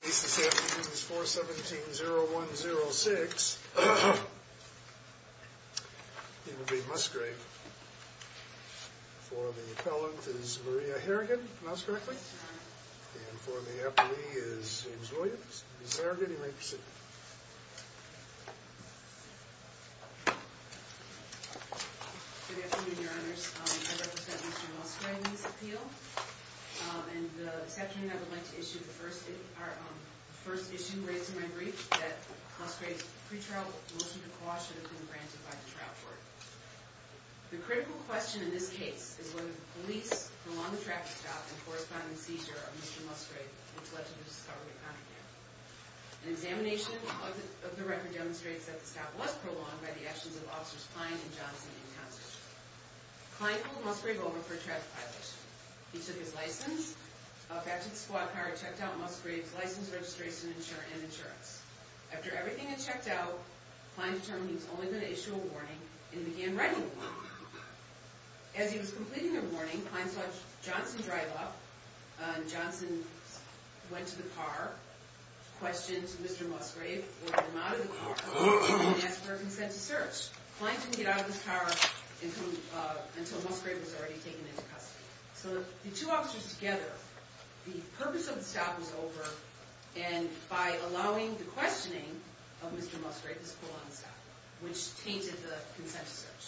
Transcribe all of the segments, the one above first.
At least this afternoon is 4-17-0-1-0-6. It will be Musgrave. For the appellant is Maria Harrigan. Pronounce correctly. And for the appellee is James Williams. Ms. Harrigan, you may proceed. Good afternoon, your honors. I represent Mr. Musgrave's appeal. And the section that I would like to issue the first issue raised in my brief that Musgrave's pre-trial motion to quash should have been granted by the trial court. The critical question in this case is whether the police prolonged the traffic stop in corresponding seizure of Mr. Musgrave, which led to the discovery of contraband. An examination of the record demonstrates that the stop was prolonged by the actions of Officers Pine and Johnson and Townsend. Pine called Musgrave over for a traffic violation. He took his license, got to the squad car, checked out Musgrave's license, registration, and insurance. After everything had checked out, Pine determined he was only going to issue a warning and began writing one. As he was completing the warning, Pine saw Johnson drive up. Johnson went to the car, questioned Mr. Musgrave, or him out of the car, and asked for a consent to search. Pine didn't get out of his car until Musgrave was already taken into custody. So the two officers together, the purpose of the stop was over, and by allowing the questioning of Mr. Musgrave, this prolonged the stop, which tainted the consent to search.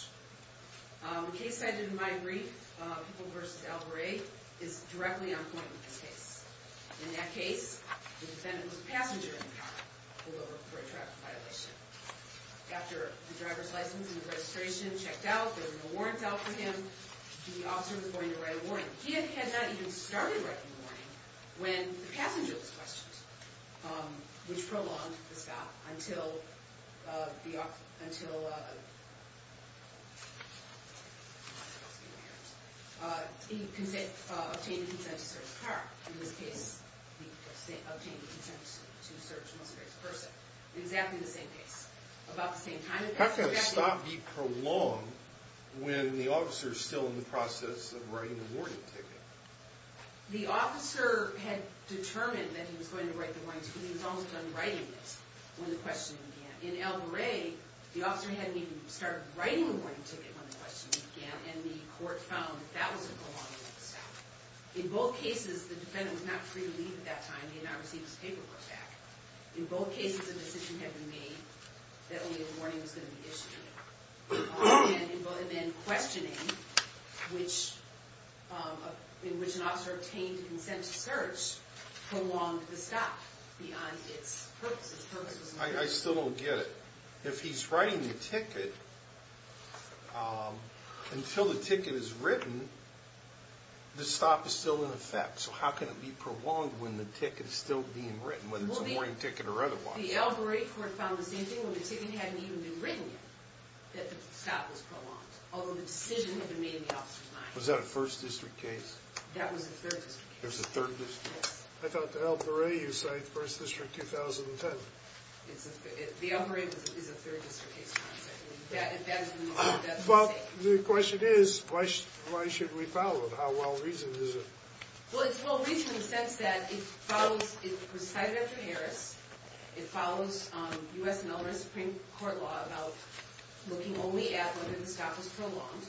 The case cited in my brief, Pickle v. Albury, is directly on point with this case. In that case, the defendant was a passenger in the car, pulled over for a traffic violation. After the driver's license and registration checked out, there were no warrants out for him, the officer was going to write a warning. He had not even started writing the warning when the passenger was questioned, which prolonged the stop until he obtained the consent to search the car. In this case, he obtained the consent to search Mr. Musgrave's person. Exactly the same case. How can a stop be prolonged when the officer is still in the process of writing the warning ticket? The officer had determined that he was going to write the warning ticket, and he was almost done writing it when the questioning began. In Albury, the officer hadn't even started writing the warning ticket when the questioning began, and the court found that was a prolonged stop. In both cases, the defendant was not free to leave at that time, and he had not received his paperwork back. In both cases, a decision had been made that only a warning was going to be issued. And then questioning, in which an officer obtained consent to search, prolonged the stop beyond its purpose. I still don't get it. If he's writing the ticket, until the ticket is written, the stop is still in effect. So how can it be prolonged when the ticket is still being written, whether it's a warning ticket or otherwise? The Albury court found the same thing, when the ticket hadn't even been written yet, that the stop was prolonged, although the decision had been made in the officer's mind. Was that a 1st District case? That was a 3rd District case. I thought the Albury, you cite 1st District 2010. The Albury is a 3rd District case. Well, the question is, why should we follow it? Well, it's well-reasoned in the sense that it was cited after Harris. It follows U.S. and other Supreme Court law about looking only at whether the stop was prolonged.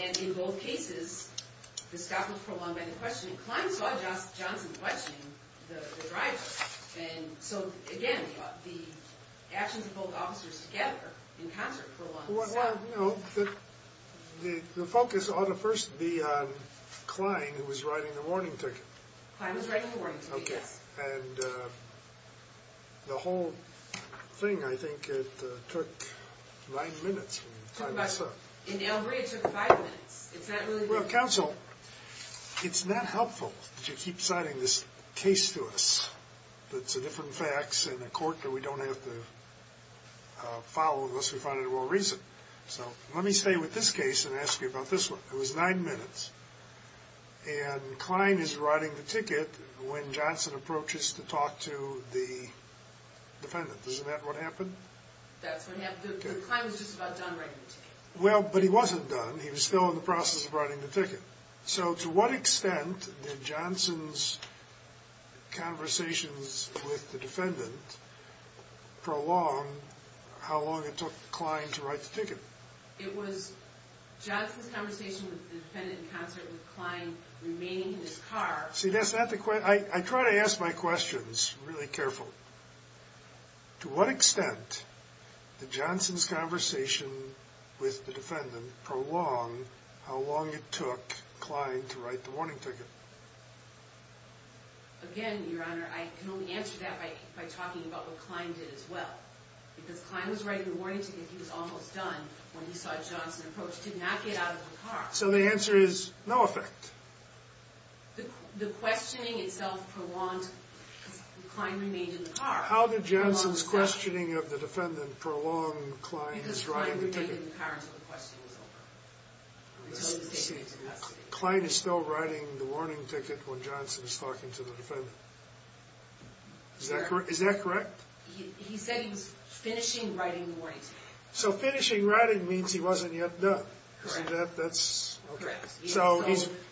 And in both cases, the stop was prolonged by the questioning. Klein saw Johnson questioning the driver. And so, again, the actions of both officers together, in concert, prolonged the stop. Well, you know, the focus ought to first be on Klein, who was writing the warning ticket. And the whole thing, I think it took 9 minutes. In the Albury, it took 5 minutes. Well, Counsel, it's not helpful that you keep citing this case to us that's a different fact in a court that we don't have to follow unless we find it well-reasoned. So, let me stay with this case and ask you about this one. It was 9 minutes. And Klein is writing the ticket when Johnson approaches to talk to the defendant. Isn't that what happened? That's what happened. Klein was just about done writing the ticket. Well, but he wasn't done. He was still in the process of writing the ticket. So, to what extent did Johnson's conversations with the defendant prolong how long it took Klein to write the ticket? It was Johnson's conversation with the defendant in concert with Klein remaining in his car. See, that's not the question. I try to ask my questions really careful. To what extent did Johnson's conversation with the defendant prolong how long it took Klein to write the warning ticket? Again, Your Honor, I can only answer that by talking about what Klein did as well. Because Klein was writing the warning ticket. He was almost done when he saw Johnson approach to not get out of the car. So, the answer is no effect. The questioning itself prolonged because Klein remained in the car. How did Johnson's questioning of the defendant prolong Klein's writing the ticket? Because Klein remained in the car until the questioning was over. Until he was taken into custody. See, Klein is still writing the warning ticket when Johnson is talking to the defendant. Is that correct? He said he was finishing writing the warning ticket. So, finishing writing means he wasn't yet done. Correct. The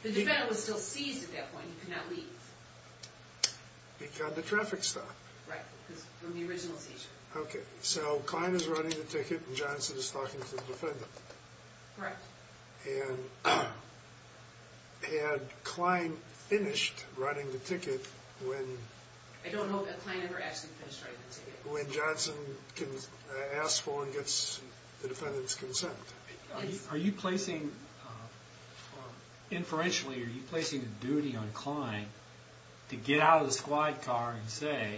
defendant was still seized at that point. He could not leave. Because of the traffic stop. Right. Because of the original seizure. Okay. So, Klein is writing the ticket when Johnson is talking to the defendant. Correct. And had Klein finished writing the ticket when... I don't know that Klein ever actually finished writing the ticket. When Johnson asks for and gets the defendant's consent. Are you placing inferentially, are you placing a duty on Klein to get out of the squad car and say,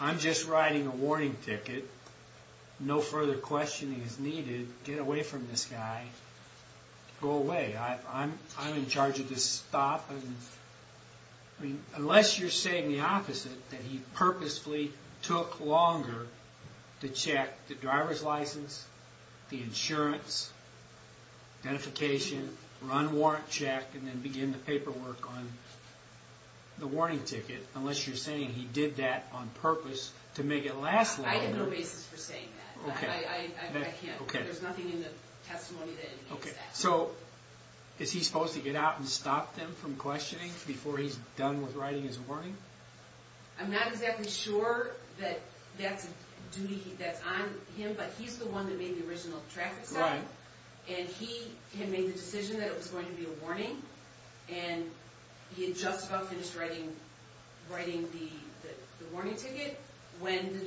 I'm just writing a warning ticket. No further questioning is needed. Get away from this guy. Go away. I'm in charge of this stop. Unless you're saying the opposite. That he purposefully took longer to check the driver's license, the insurance, identification, run warrant check, and then begin the paperwork on the warning ticket. Unless you're saying he did that on purpose to make it last longer. I have no basis for saying that. I can't. There's nothing in the testimony that indicates that. So, is he supposed to get out and stop them from questioning before he's done with writing his warning? I'm not exactly sure that that's a duty that's on him, but he's the one that made the original traffic stop. Right. And he had made the decision that it was going to be a warning. And he had just about finished writing the warning ticket when the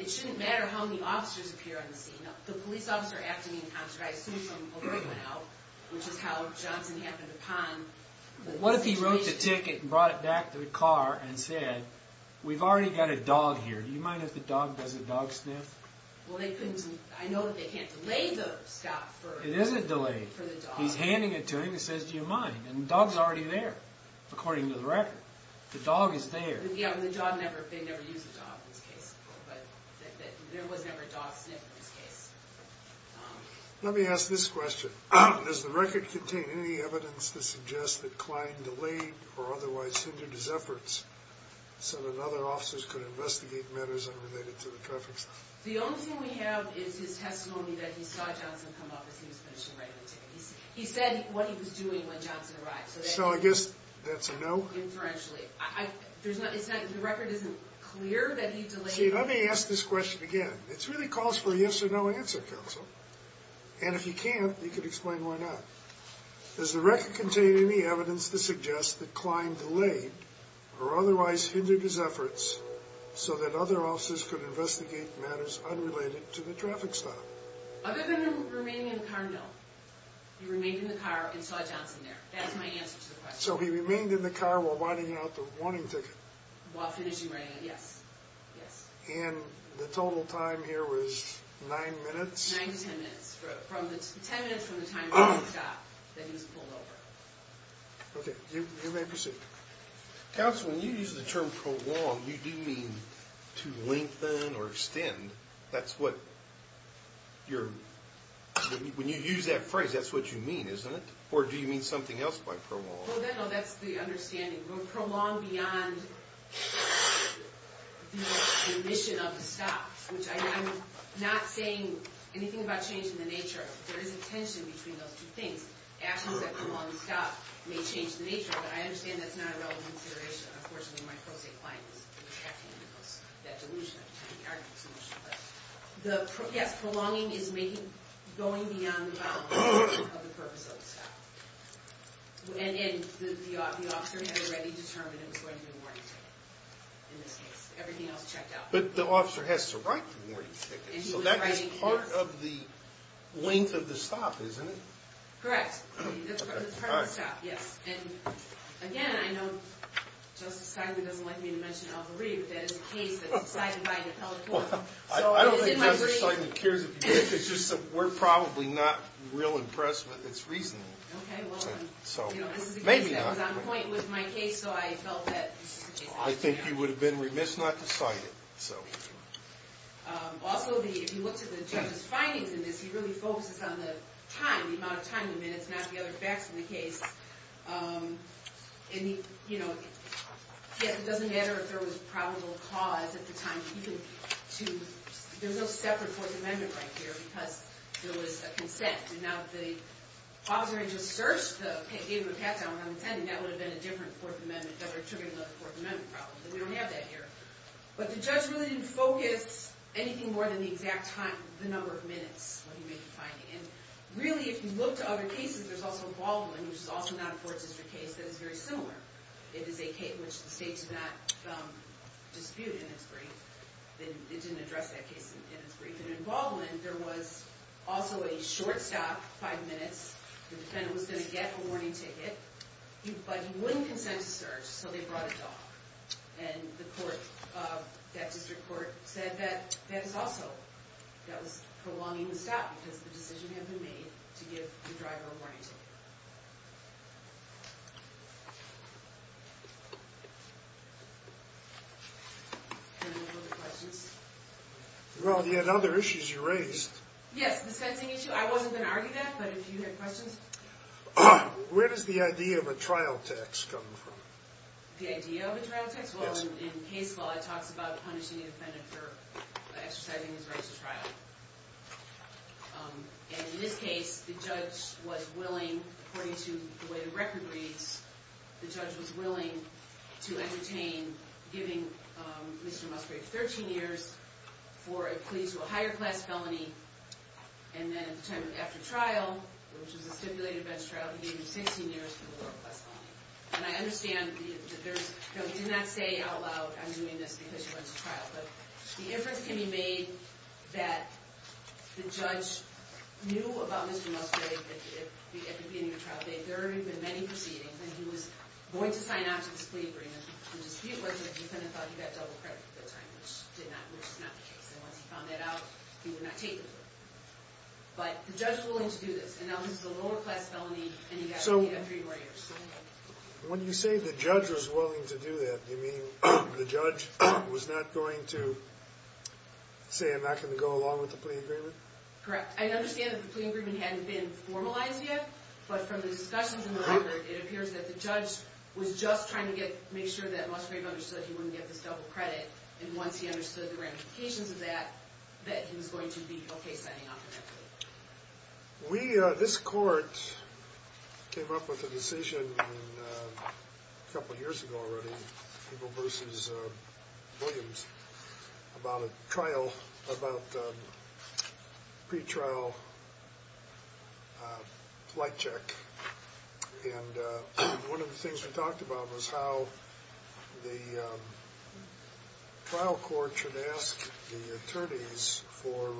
It shouldn't matter how many officers appear on the scene. The police officer after being conscripted, I assume from where he went out, which is how Johnson happened upon What if he wrote the ticket and brought it back to the car and said we've already got a dog here. Do you mind if the dog does a dog sniff? Well, they couldn't. I know that they can't delay the stop for It isn't delayed. He's handing it to him and says, do you mind? And the dog's already there. According to the record. The dog is there. Yeah, the dog never, they never used the dog in this case. There was never a dog sniff in this case. Let me ask this question. Does the record contain any evidence to suggest that Klein delayed or otherwise hindered his efforts so that other officers could investigate matters unrelated to the traffic stop? The only thing we have is his testimony that he saw Johnson come up as he was finishing writing the ticket. He said what he was doing when Johnson arrived. So I guess that's a no? Inferentially. The record isn't clear that he See, let me ask this question again. It really calls for a yes or no answer, Counsel. And if you can't, you can explain why not. Does the record contain any evidence to suggest that Klein delayed or otherwise hindered his efforts so that other officers could investigate matters unrelated to the traffic stop? Other than him remaining in the car, no. He remained in the car and saw Johnson there. That's my answer to the question. So he remained in the car while winding out the warning ticket? While finishing writing it, yes. And the total time here was nine minutes? Nine to ten minutes. Ten minutes from the time he was at the stop that he was pulled over. Okay, you may proceed. Counsel, when you use the term prolong you do mean to lengthen or extend. That's what your, when you use that phrase, that's what you mean, isn't it? Or do you mean something else by prolong? No, that's the understanding. Prolong beyond the mission of the stop, which I'm not saying anything about changing the nature of it. There is a tension between those two things. Actions that prolong the stop may change the nature of it. I understand that's not a relevant consideration. Unfortunately, my pro se client is reacting to that delusion. Yes, prolonging is making, going beyond the boundaries of the purpose of the stop. And the officer had already determined it was going to be a warning ticket in this case. Everything else checked out. But the officer has to write the warning ticket. So that is part of the length of the stop, isn't it? Correct. That's part of the stop, yes. And again, I know Justice Steinley doesn't like me to mention Al Goree, but that is a case that's decided by an appellate court. I don't think Justice Steinley cares if you mention it. We're probably not real impressed with its reasoning. Maybe not. I was on point with my case, so I felt that I think he would have been remiss not to cite it. Also, if you look to the judge's findings in this, he really focuses on the time, the amount of time he minutes, not the other facts in the case. It doesn't matter if there was probable cause at the time. There's no separate Fourth Amendment right here, because there was a consent. If the officer had just gave him a pat-down when I'm intending, that would have been a different Fourth Amendment that would have triggered another Fourth Amendment problem. But we don't have that here. But the judge really didn't focus anything more than the exact time, the number of minutes that he made the finding. And really, if you look to other cases, there's also Baldwin, which is also not a Fourth District case, that is very similar. It is a case which the state did not dispute in its brief. It didn't address that case in its brief. And in Baldwin, there was also a short stop, five minutes. The defendant was going to get a warning ticket, but he wouldn't consent to search, so they brought it off. And the court, that district court, said that that was also prolonging the stop, because the decision had been made to give the driver a warning ticket. And those were the questions. Well, you had other issues you raised. Yes, the sentencing issue. I wasn't going to argue that, but if you had questions. Where does the idea of a trial tax come from? The idea of a trial tax? Well, in case law, it talks about punishing the defendant for exercising his right to trial. And in this case, the judge was willing according to the way the record reads, the judge was willing to entertain giving Mr. Musgrave 13 years for a plea to a higher class felony. And then at the time of after trial, which was a stipulated bench trial, he gave him 16 years for a lower class felony. And I understand that there's he did not say out loud, I'm doing this because he wants a trial. But the inference can be made that the judge knew about Mr. Musgrave at the beginning of trial day. There have been many proceedings and he was going to sign off to this plea agreement. The dispute was that the defendant thought he got double credit at the time, which did not, which is not the case. And once he found that out he would not take it. But the judge was willing to do this. And now he's a lower class felony and he got three more years. When you say the judge was willing to do that, you mean the judge was not going to say I'm not going to go along with the plea agreement? Correct. I understand that the plea agreement hadn't been formalized yet. But from the discussions in the record, it appears that the judge was just trying to make sure that Musgrave understood he wouldn't get this double credit. And once he understood the ramifications of that, that he was going to be okay signing off to that plea. We, this court, came up with a decision a couple years ago already people versus Williams about a trial about a pretrial flight check. And one of the things we talked about was how the trial court should ask the attorneys for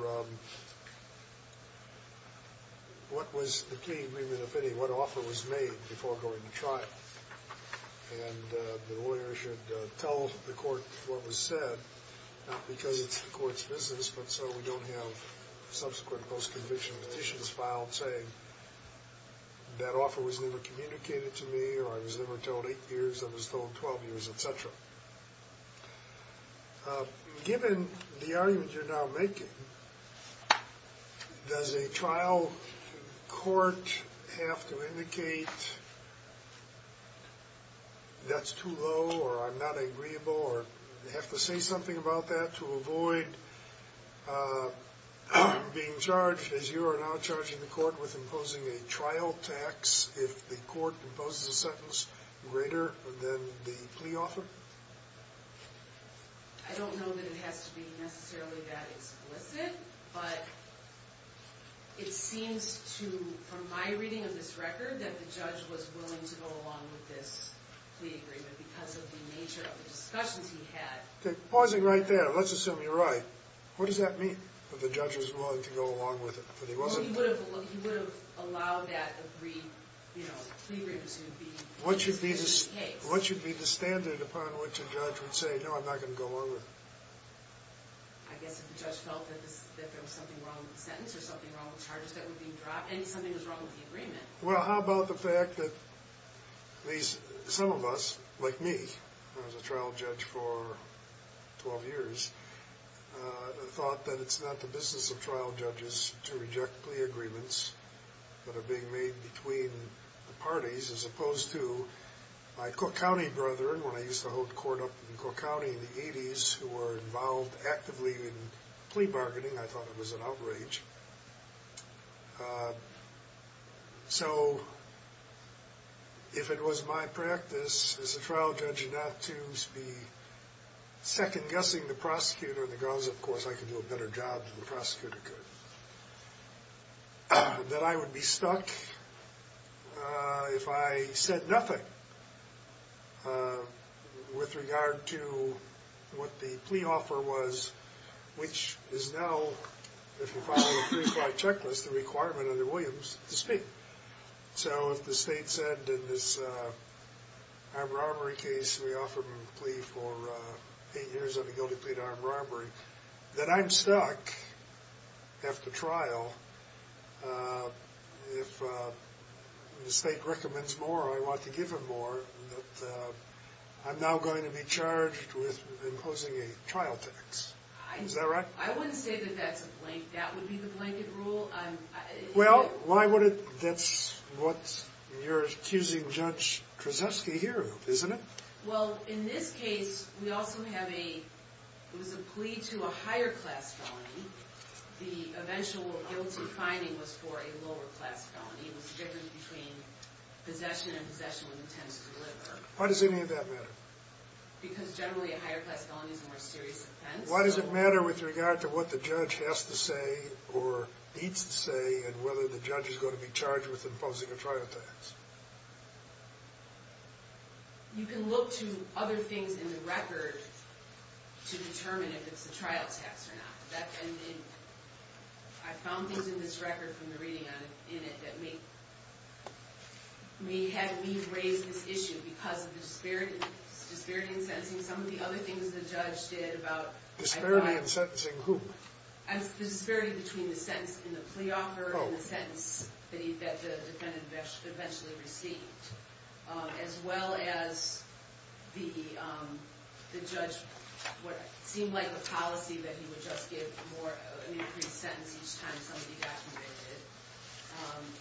what was the plea agreement, if any, what offer was made before going to trial. And the lawyer should tell the court what was said not because it's the court's business, but so we don't have subsequent post-conviction petitions filed saying that offer was never communicated to me or I was never told 8 years, I was told 12 years, etc. Given the argument you're now making, does a trial court have to indicate that's too low or I'm not to avoid being charged as you are now charging the court with imposing a trial tax if the court imposes a sentence greater than the plea offer? I don't know that it has to be necessarily that explicit, but it seems to, from my reading of this record, that the judge was willing to go along with this plea agreement because of the nature of the discussions he had. Okay, pausing right there, let's assume you're right. What does that mean, that the judge was willing to go along with it? He would have allowed that plea agreement to be in the case. What should be the standard upon which a judge would say no, I'm not going to go along with it? I guess if the judge felt that there was something wrong with the sentence or something wrong with the charges that were being dropped and something was wrong with the agreement. Well, how about the fact that some of us, like me, I was a trial judge for 12 years, thought that it's not the business of trial judges to reject plea agreements that are being made between the parties as opposed to my Cook County brethren when I used to hold court up in Cook County in the 80s who were involved actively in plea bargaining. I thought it was an outrage. So, if it was my practice as a trial judge not to be second-guessing the prosecutor because, of course, I could do a better job than the prosecutor could, that I would be stuck if I said nothing with regard to what the plea offer was, which is now, if you follow the pre-flight checklist, the requirement under Williams to speak. So, if the state said in this armed robbery case, we offer him a plea for eight years on a guilty plea to armed robbery, that I'm stuck after trial if the state recommends more or I want to give him more, that I'm now going to be charged with imposing a trial tax. Is that right? I wouldn't say that that's a blanket rule. Well, why would it, that's what you're accusing Judge Kraszewski here of, isn't it? Well, in this case, we also have a, it was a plea to a higher class felony. The eventual guilty finding was for a lower class felony. It was a difference between possession and possession with intent to deliver. Why does any of that matter? Because generally, a higher class felony is a more serious offense. Why does it matter with regard to what the judge has to say or needs to say and whether the judge is going to be charged with imposing a trial tax? You can look to other things in the record to determine if it's a trial tax or not. I found things in this record from the reading in it that may have me raise this issue because of the disparity in sentencing. Some of the other things the judge did about Disparity in sentencing who? The disparity between the sentence in the plea offer and the sentence that the defendant eventually received. As well as the judge, what seemed like a policy that he would just give more, an increased sentence each time somebody got convicted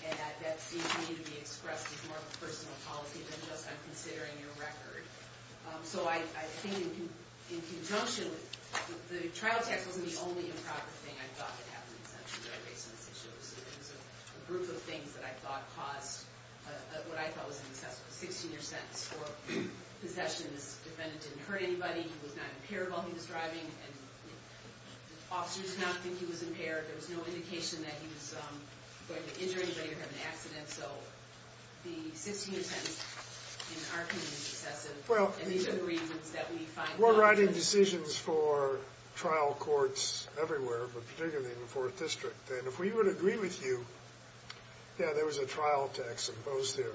and that seems to me to be expressed as more of a personal policy than just, I'm considering your record. So I think in conjunction, the trial tax wasn't the only improper thing I thought that happened in sentencing that I raised in this issue. It was a group of things that I thought caused what I thought was an excessive 16-year sentence for possession. This defendant didn't hurt anybody. He was not impaired while he was driving and the officers did not think he was impaired. There was no indication that he was going to injure anybody or have an accident. So the 16-year sentence in our community is excessive. We're writing decisions for trial courts everywhere, but particularly in the 4th District and if we would agree with you, yeah there was a trial tax imposed there.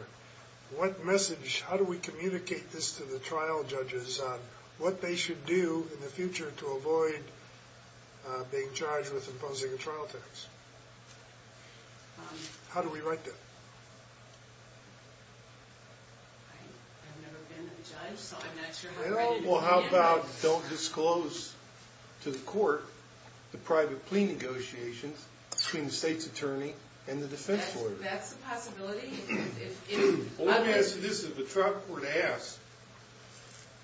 What message, how do we communicate this to the trial judges on what they should do in the future to avoid being charged with imposing a trial tax? How do we write that? I've never been a judge, so I'm not sure how to handle this. Well how about don't disclose to the court the private plea negotiations between the state's attorney and the defense lawyer? That's a possibility. If the trial court asks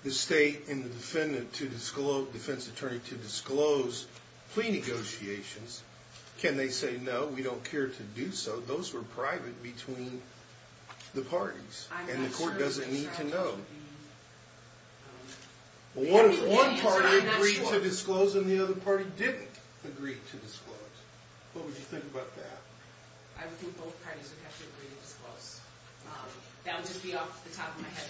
the state and the defense attorney to disclose plea negotiations, can they say no, we don't care to do so? Those were private between the parties and the court doesn't need to know. One party agreed to disclose and the other party didn't agree to disclose. What would you think about that? I would think both parties would have to agree to disclose. That would just be off the top of my head.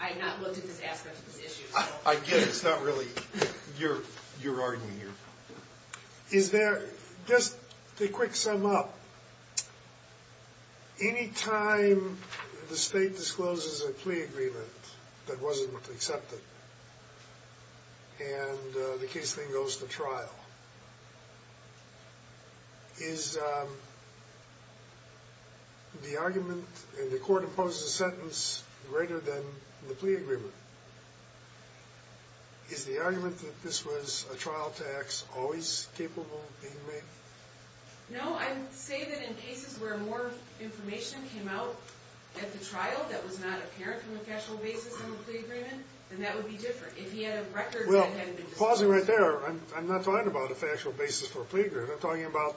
I had not looked at this aspect of this issue. I get it. It's not really your argument here. Just to quick sum up, any time the state discloses a plea agreement that wasn't accepted and the case then goes to trial, is the argument, and the court imposes a sentence greater than the plea agreement, is the argument that this was a trial tax always capable of being made? No, I would say that in cases where more information came out at the trial that was not apparent from a factual basis of a plea agreement, then that would be different. If he had a record... I'm not talking about a factual basis for a plea agreement. I'm talking about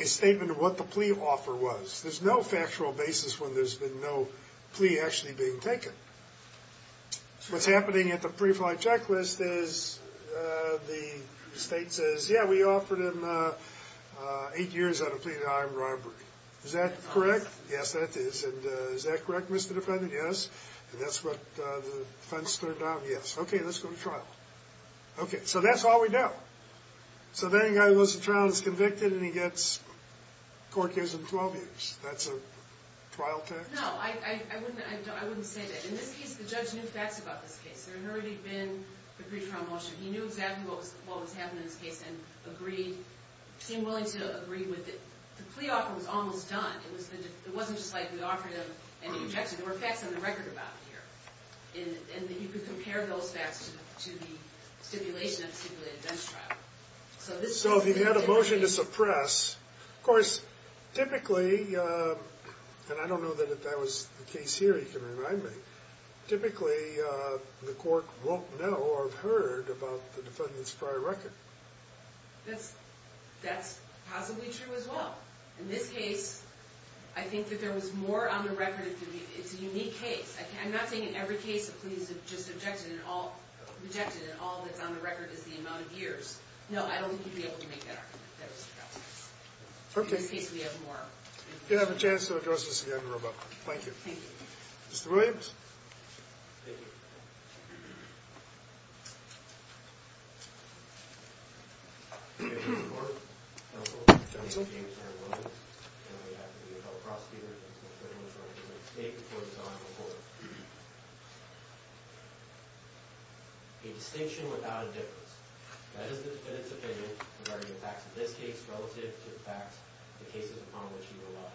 a statement of what the plea offer was. There's no factual basis when there's been no plea actually being taken. What's happening at the summary of my checklist is the state says, yeah, we offered him eight years on a plea to hire a bribery. Is that correct? Yes, that is. And is that correct, Mr. Defendant? Yes. And that's what the defense turned down? Yes. Okay, let's go to trial. Okay, so that's all we know. So then a guy goes to trial and is convicted, and the court gives him 12 years. That's a trial tax? No, I wouldn't say that. In this case, the judge knew facts about this case. There had already been a brief trial motion. He knew exactly what was happening in this case and agreed, seemed willing to agree with it. The plea offer was almost done. It wasn't just like we offered him an objection. There were facts on the record about it here. And you could compare those facts to the stipulation of the stipulated bench trial. So if he had a motion to suppress, of course, typically, and I don't know that that was the case here, you can remind me, typically, the court won't know or have heard about the defendant's prior record. That's possibly true as well. In this case, I think that there was more on the record. It's a unique case. I'm not saying in every case a plea is just objected and all that's on the record is the amount of years. No, I don't think you'd be able to make that argument. In this case, we have more. You have a chance to address this again, Robo. Thank you. Mr. Williams. Counsel. A distinction without a difference. That is the defendant's opinion regarding the facts of this case relative to the facts of the cases upon which he relies.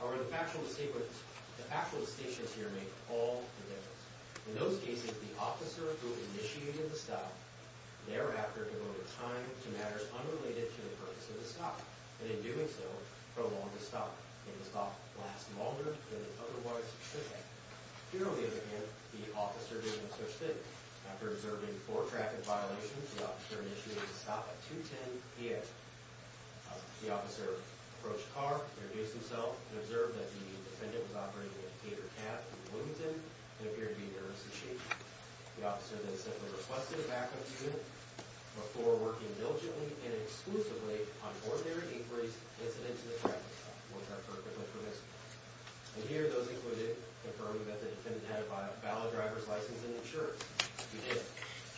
However, the factual distinctions here make all the difference. In those cases, the officer who initiated the stop thereafter devoted time to matters unrelated to the purpose of the stop. And in doing so, prolonged the stop. And the stop lasts longer than it otherwise should have. Here, on the other hand, the officer did no such thing. After observing four traffic violations, the officer initiated the stop at 210 P.M. The officer approached the car, introduced himself, and observed that the defendant was operating a catered cab from Wilmington and appeared to be nervous as sheep. The officer then simply requested a backup unit before working diligently and exclusively on ordinary inquiries incident to the traffic stop. And here, those included confirming that the defendant had a valid driver's license and insurance. He did.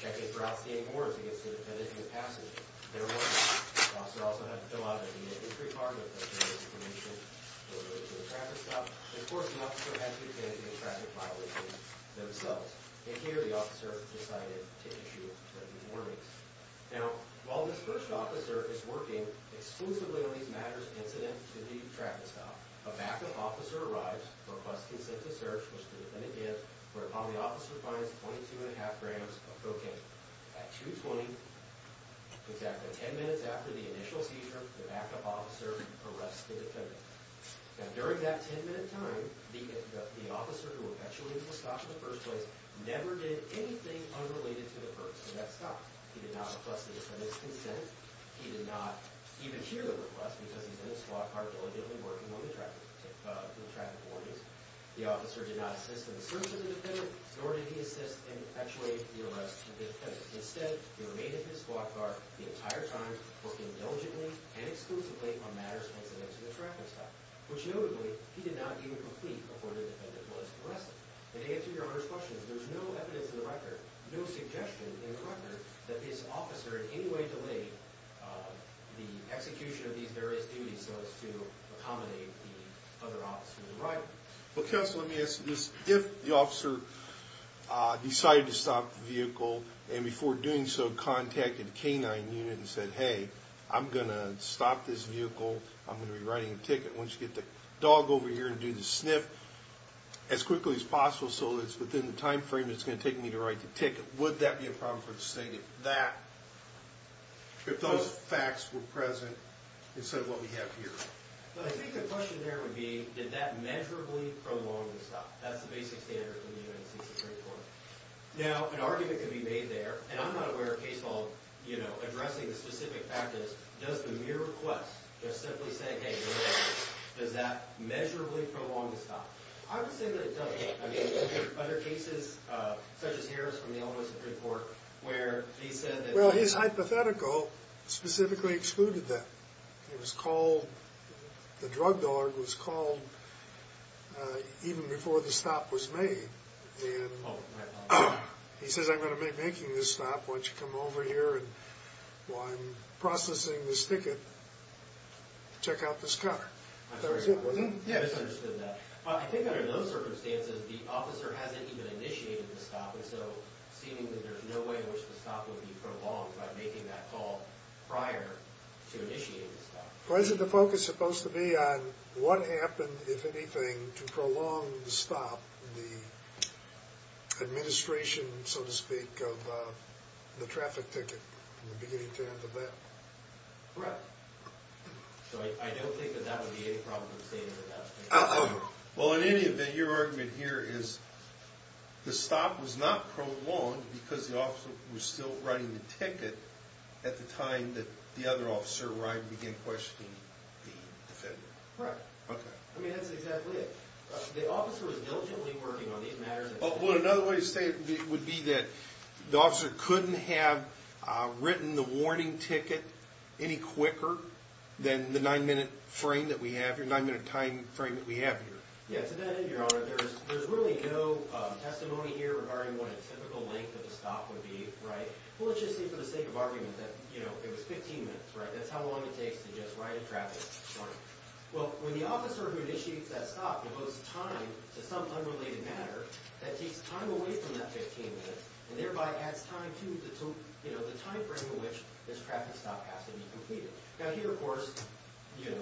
Checking for outstanding warrants against the defendant in the passage. There were none. The officer also had to fill out a vignette entry card with a written explanation in relation to the traffic stop. And, of course, the officer had to attend to the traffic violations themselves. And here, the officer decided to issue these warnings. Now, while this first officer is working exclusively on these matters incident to the traffic stop, a backup officer arrives, requests consent to search, which the defendant did, whereupon the officer finds 22.5 grams of cocaine. At 220, exactly 10 minutes after the initial seizure, the backup officer arrests the defendant. Now, during that 10-minute time, the officer who eventually was stopped in the first place never did anything unrelated to the person that stopped. He did not request the defendant's consent. He did not even hear the request because he's in a squad car diligently working on the traffic warnings. The officer did not assist in the search of the defendant, nor did he assist in actuating the arrest of the defendant. Instead, he remained in his squad car the entire time, working diligently and exclusively on matters incident to the traffic stop, which notably, he did not even complete before the defendant was arrested. And to answer Your Honor's question, there's no evidence in the record, no suggestion in the record, that this officer in any way delayed the execution of these various duties so as to accommodate the other officers. Right. Well, counsel, let me ask you this. If the officer decided to stop the vehicle, and before doing so, contacted the K-9 unit and said, hey, I'm gonna stop this vehicle, I'm gonna be writing a ticket, why don't you get the dog over here and do the sniff as quickly as possible so that it's within the time frame it's gonna take me to write the ticket, would that be a problem for the state if that, if those facts were present, instead of what we have here? Well, I think the question there would be, did that measurably prolong the stop? That's the basic standard in the United States Supreme Court. Now, an argument can be made there, and I'm not aware of case law, you know, addressing the specific factors. Does the mere request, just simply saying, hey, does that measurably prolong the stop? I would say that it doesn't. I mean, there are other cases, such as Harris from the Illinois Supreme Court, where he said that... Well, his hypothetical specifically excluded that. He was called, the drug dog was called even before the stop was made, and he says, I'm gonna be making this stop, why don't you come over here and while I'm processing this ticket, check out this car. That was it, wasn't it? I think under those circumstances, the officer hasn't even initiated the stop, and so seemingly there's no way in which the stop would be prolonged by to initiate the stop. Well, isn't the focus supposed to be on what happened, if anything, to prolong the stop, the administration, so to speak, of the traffic ticket from the beginning to end of that? Correct. So, I don't think that that would be any problem in the State of Nevada. Well, in any event, your argument here is the stop was not prolonged because the officer was still running the ticket at the time that the other officer arrived and began questioning the defendant. Right. Okay. I mean, that's exactly it. The officer was diligently working on these matters... Well, another way to say it would be that the officer couldn't have written the warning ticket any quicker than the 9-minute frame that we have here, 9-minute time frame that we have here. Yeah, to that end, your Honor, there's really no testimony here regarding what a typical length of a stop would be, right? Well, let's just say for the sake of argument that, you know, it was 15 minutes, right? That's how long it takes to just write a traffic warning. Well, when the officer who initiates that stop devotes time to some unrelated matter, that takes time away from that 15 minutes and thereby adds time to the time frame in which this traffic stop has to be completed. Now, here, of course,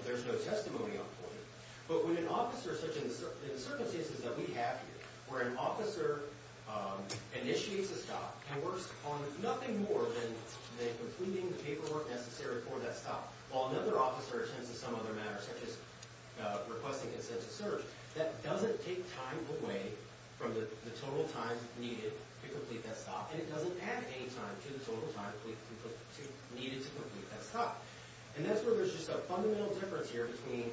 there's no testimony on point, but when an officer in circumstances that we have here, where an officer initiates a stop and works on nothing more than completing the paperwork necessary for that stop, while another officer attends to some other matter, such as requesting a census search, that doesn't take time away from the total time needed to complete that stop, and it doesn't add any time to the total time needed to complete that stop. And that's where there's just a fundamental difference here between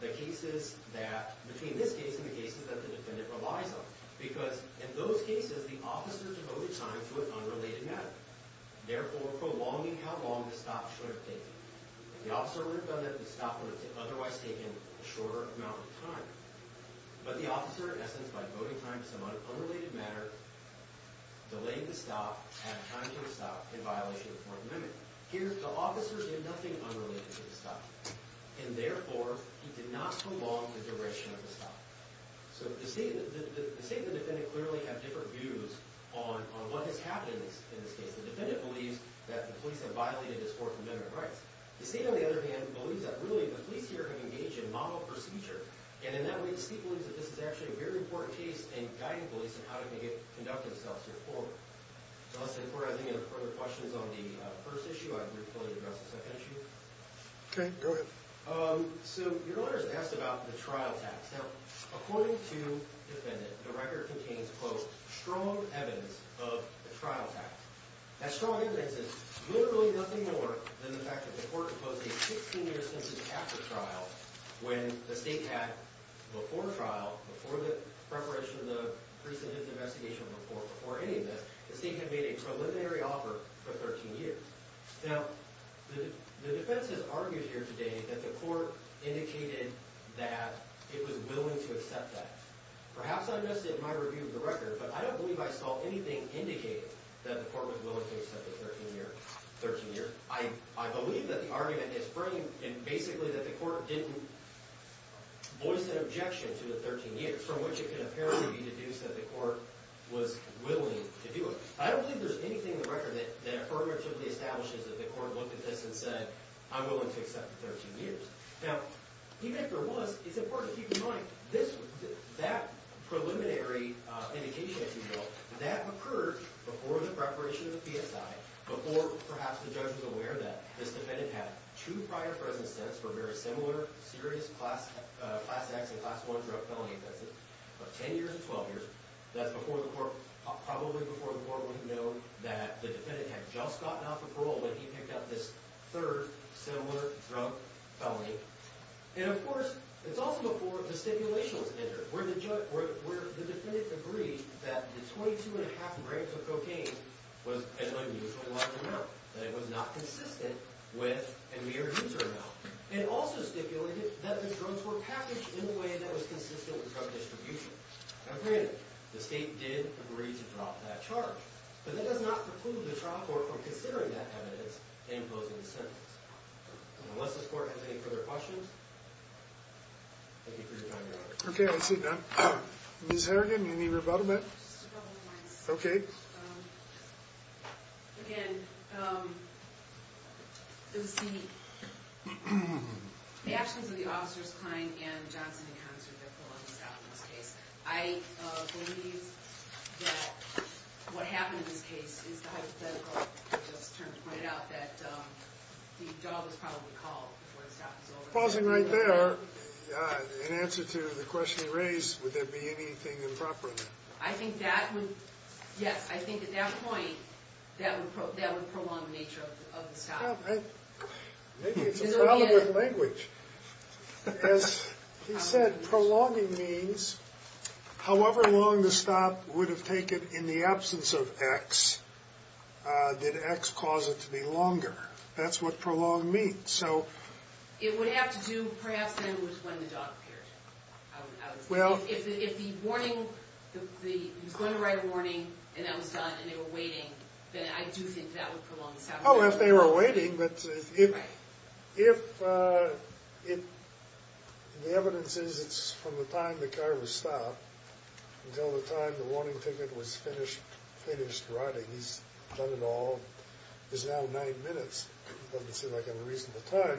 the cases that... between this case and the cases that the case that the officer devoted time to an unrelated matter, therefore prolonging how long the stop should have taken. If the officer would have done it, the stop would have otherwise taken a shorter amount of time. But the officer, in essence, by devoting time to some unrelated matter, delayed the stop, added time to the stop in violation of the Fourth Amendment. Here, the officer did nothing unrelated to the stop, and therefore he did not prolong the duration of the stop. So the state and the defendant clearly have different views on what has happened in this case. The defendant believes that the police have violated his Fourth Amendment rights. The state, on the other hand, believes that really the police here have engaged in model procedure, and in that way, the state believes that this is actually a very important case in guiding police in how to conduct themselves here forward. So unless the court has any further questions on the first issue, I'd be willing to address the second issue. Okay, go ahead. So your lawyers asked about the new defendant. The record contains, quote, strong evidence of the trial tax. That strong evidence is literally nothing more than the fact that the court proposed a 16-year sentence after trial when the state had, before trial, before the preparation of the precedence investigation report, before any of this, the state had made a preliminary offer for 13 years. Now, the defense has argued here today that the court indicated that it was willing to accept that. Perhaps I missed it in my review of the record, but I don't believe I saw anything indicating that the court was willing to accept the 13-year. I believe that the argument is framed in basically that the court didn't voice an objection to the 13 years, from which it can apparently be deduced that the court was willing to do it. I don't believe there's anything in the record that affirmatively establishes that the court looked at this and said, I'm willing to accept the 13 years. Now, even if there was, it's important to keep in mind, that preliminary indication, as you know, that occurred before the preparation of the PSI, before perhaps the judge was aware that this defendant had two prior presence sentences for very similar, serious Class X and Class I drug felony offenses of 10 years and 12 years. That's probably before the court would have known that the defendant had just gotten off of parole when he picked up this third similar drug felony. And of course, it's also before the stipulation was entered, where the defendant agreed that the 22.5 grams of cocaine was an unusually large amount, that it was not consistent with a mere user amount. It also stipulated that the drugs were packaged in a way that was consistent with drug distribution. Now granted, the state did agree to drop that charge, but that does not preclude the trial court from considering that sentence. And unless this court has any further questions, thank you for your time, Your Honor. Ms. Harrigan, you need rebuttal, ma'am? Again, the actions of the officers, Klein and Johnson in concert with their felonies out in this case. I believe that what happened in this case is hypothetical. I just wanted to point out that the dog was probably called before the stop was over. Pausing right there, in answer to the question you raised, would there be anything improper in that? I think that would yes, I think at that point, that would prolong the nature of the stop. Maybe it's a problem with language. As he said, prolonging means however long the stop would have taken in the absence of X, did X cause it to be longer? That's what prolong means. It would have to do perhaps with when the dog appeared. If the warning he was going to write a warning, and that was done, and they were waiting then I do think that would prolong the stop. Oh, if they were waiting, but if the evidence is it's from the time the car was stopped until the time the car was running. He's done it all. It's now nine minutes. Doesn't seem like a reasonable time.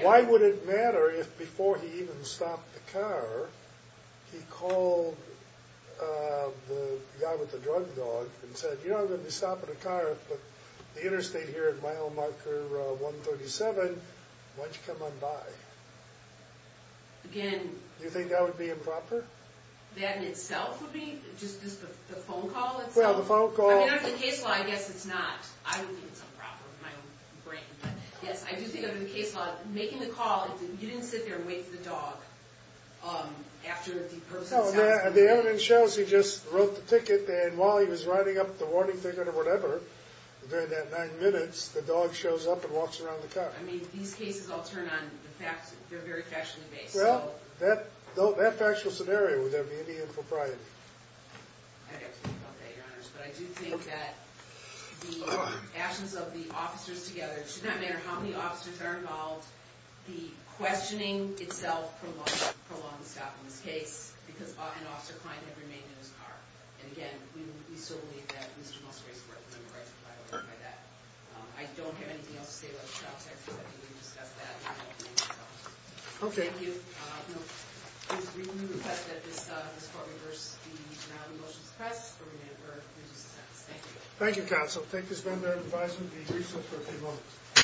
Why would it matter if before he even stopped the car, he called the guy with the drug dog and said you know I'm going to be stopping the car at the interstate here at mile marker 137, why don't you come on by? Do you think that would be improper? That in itself would be, just the phone call itself? Well, the phone call I guess it's not. I don't think it's improper. Yes, I do think under the case law, making the call, you didn't sit there and wait for the dog after the person stopped. The evidence shows he just wrote the ticket and while he was writing up the warning ticket or whatever during that nine minutes, the dog shows up and walks around the car. I mean, these cases all turn on, they're very factually based. Well, that factual scenario, would there be any impropriety? I'd have to think about that, your honors, but I do think that the actions of the officers together, it should not matter how many officers are involved, the questioning itself prolonged the stop in this case because an officer client had remained in his car. And again, we still believe that Mr. Musgrave's worth and the right to provide a warrant by that. I don't have anything else to say about the child sex offender. We didn't discuss that. Okay. Thank you. We request that this court reverse the motion to press for a reduced sentence. Thank you. Thank you, counsel. Take this vendor and advise him to be released for a few moments.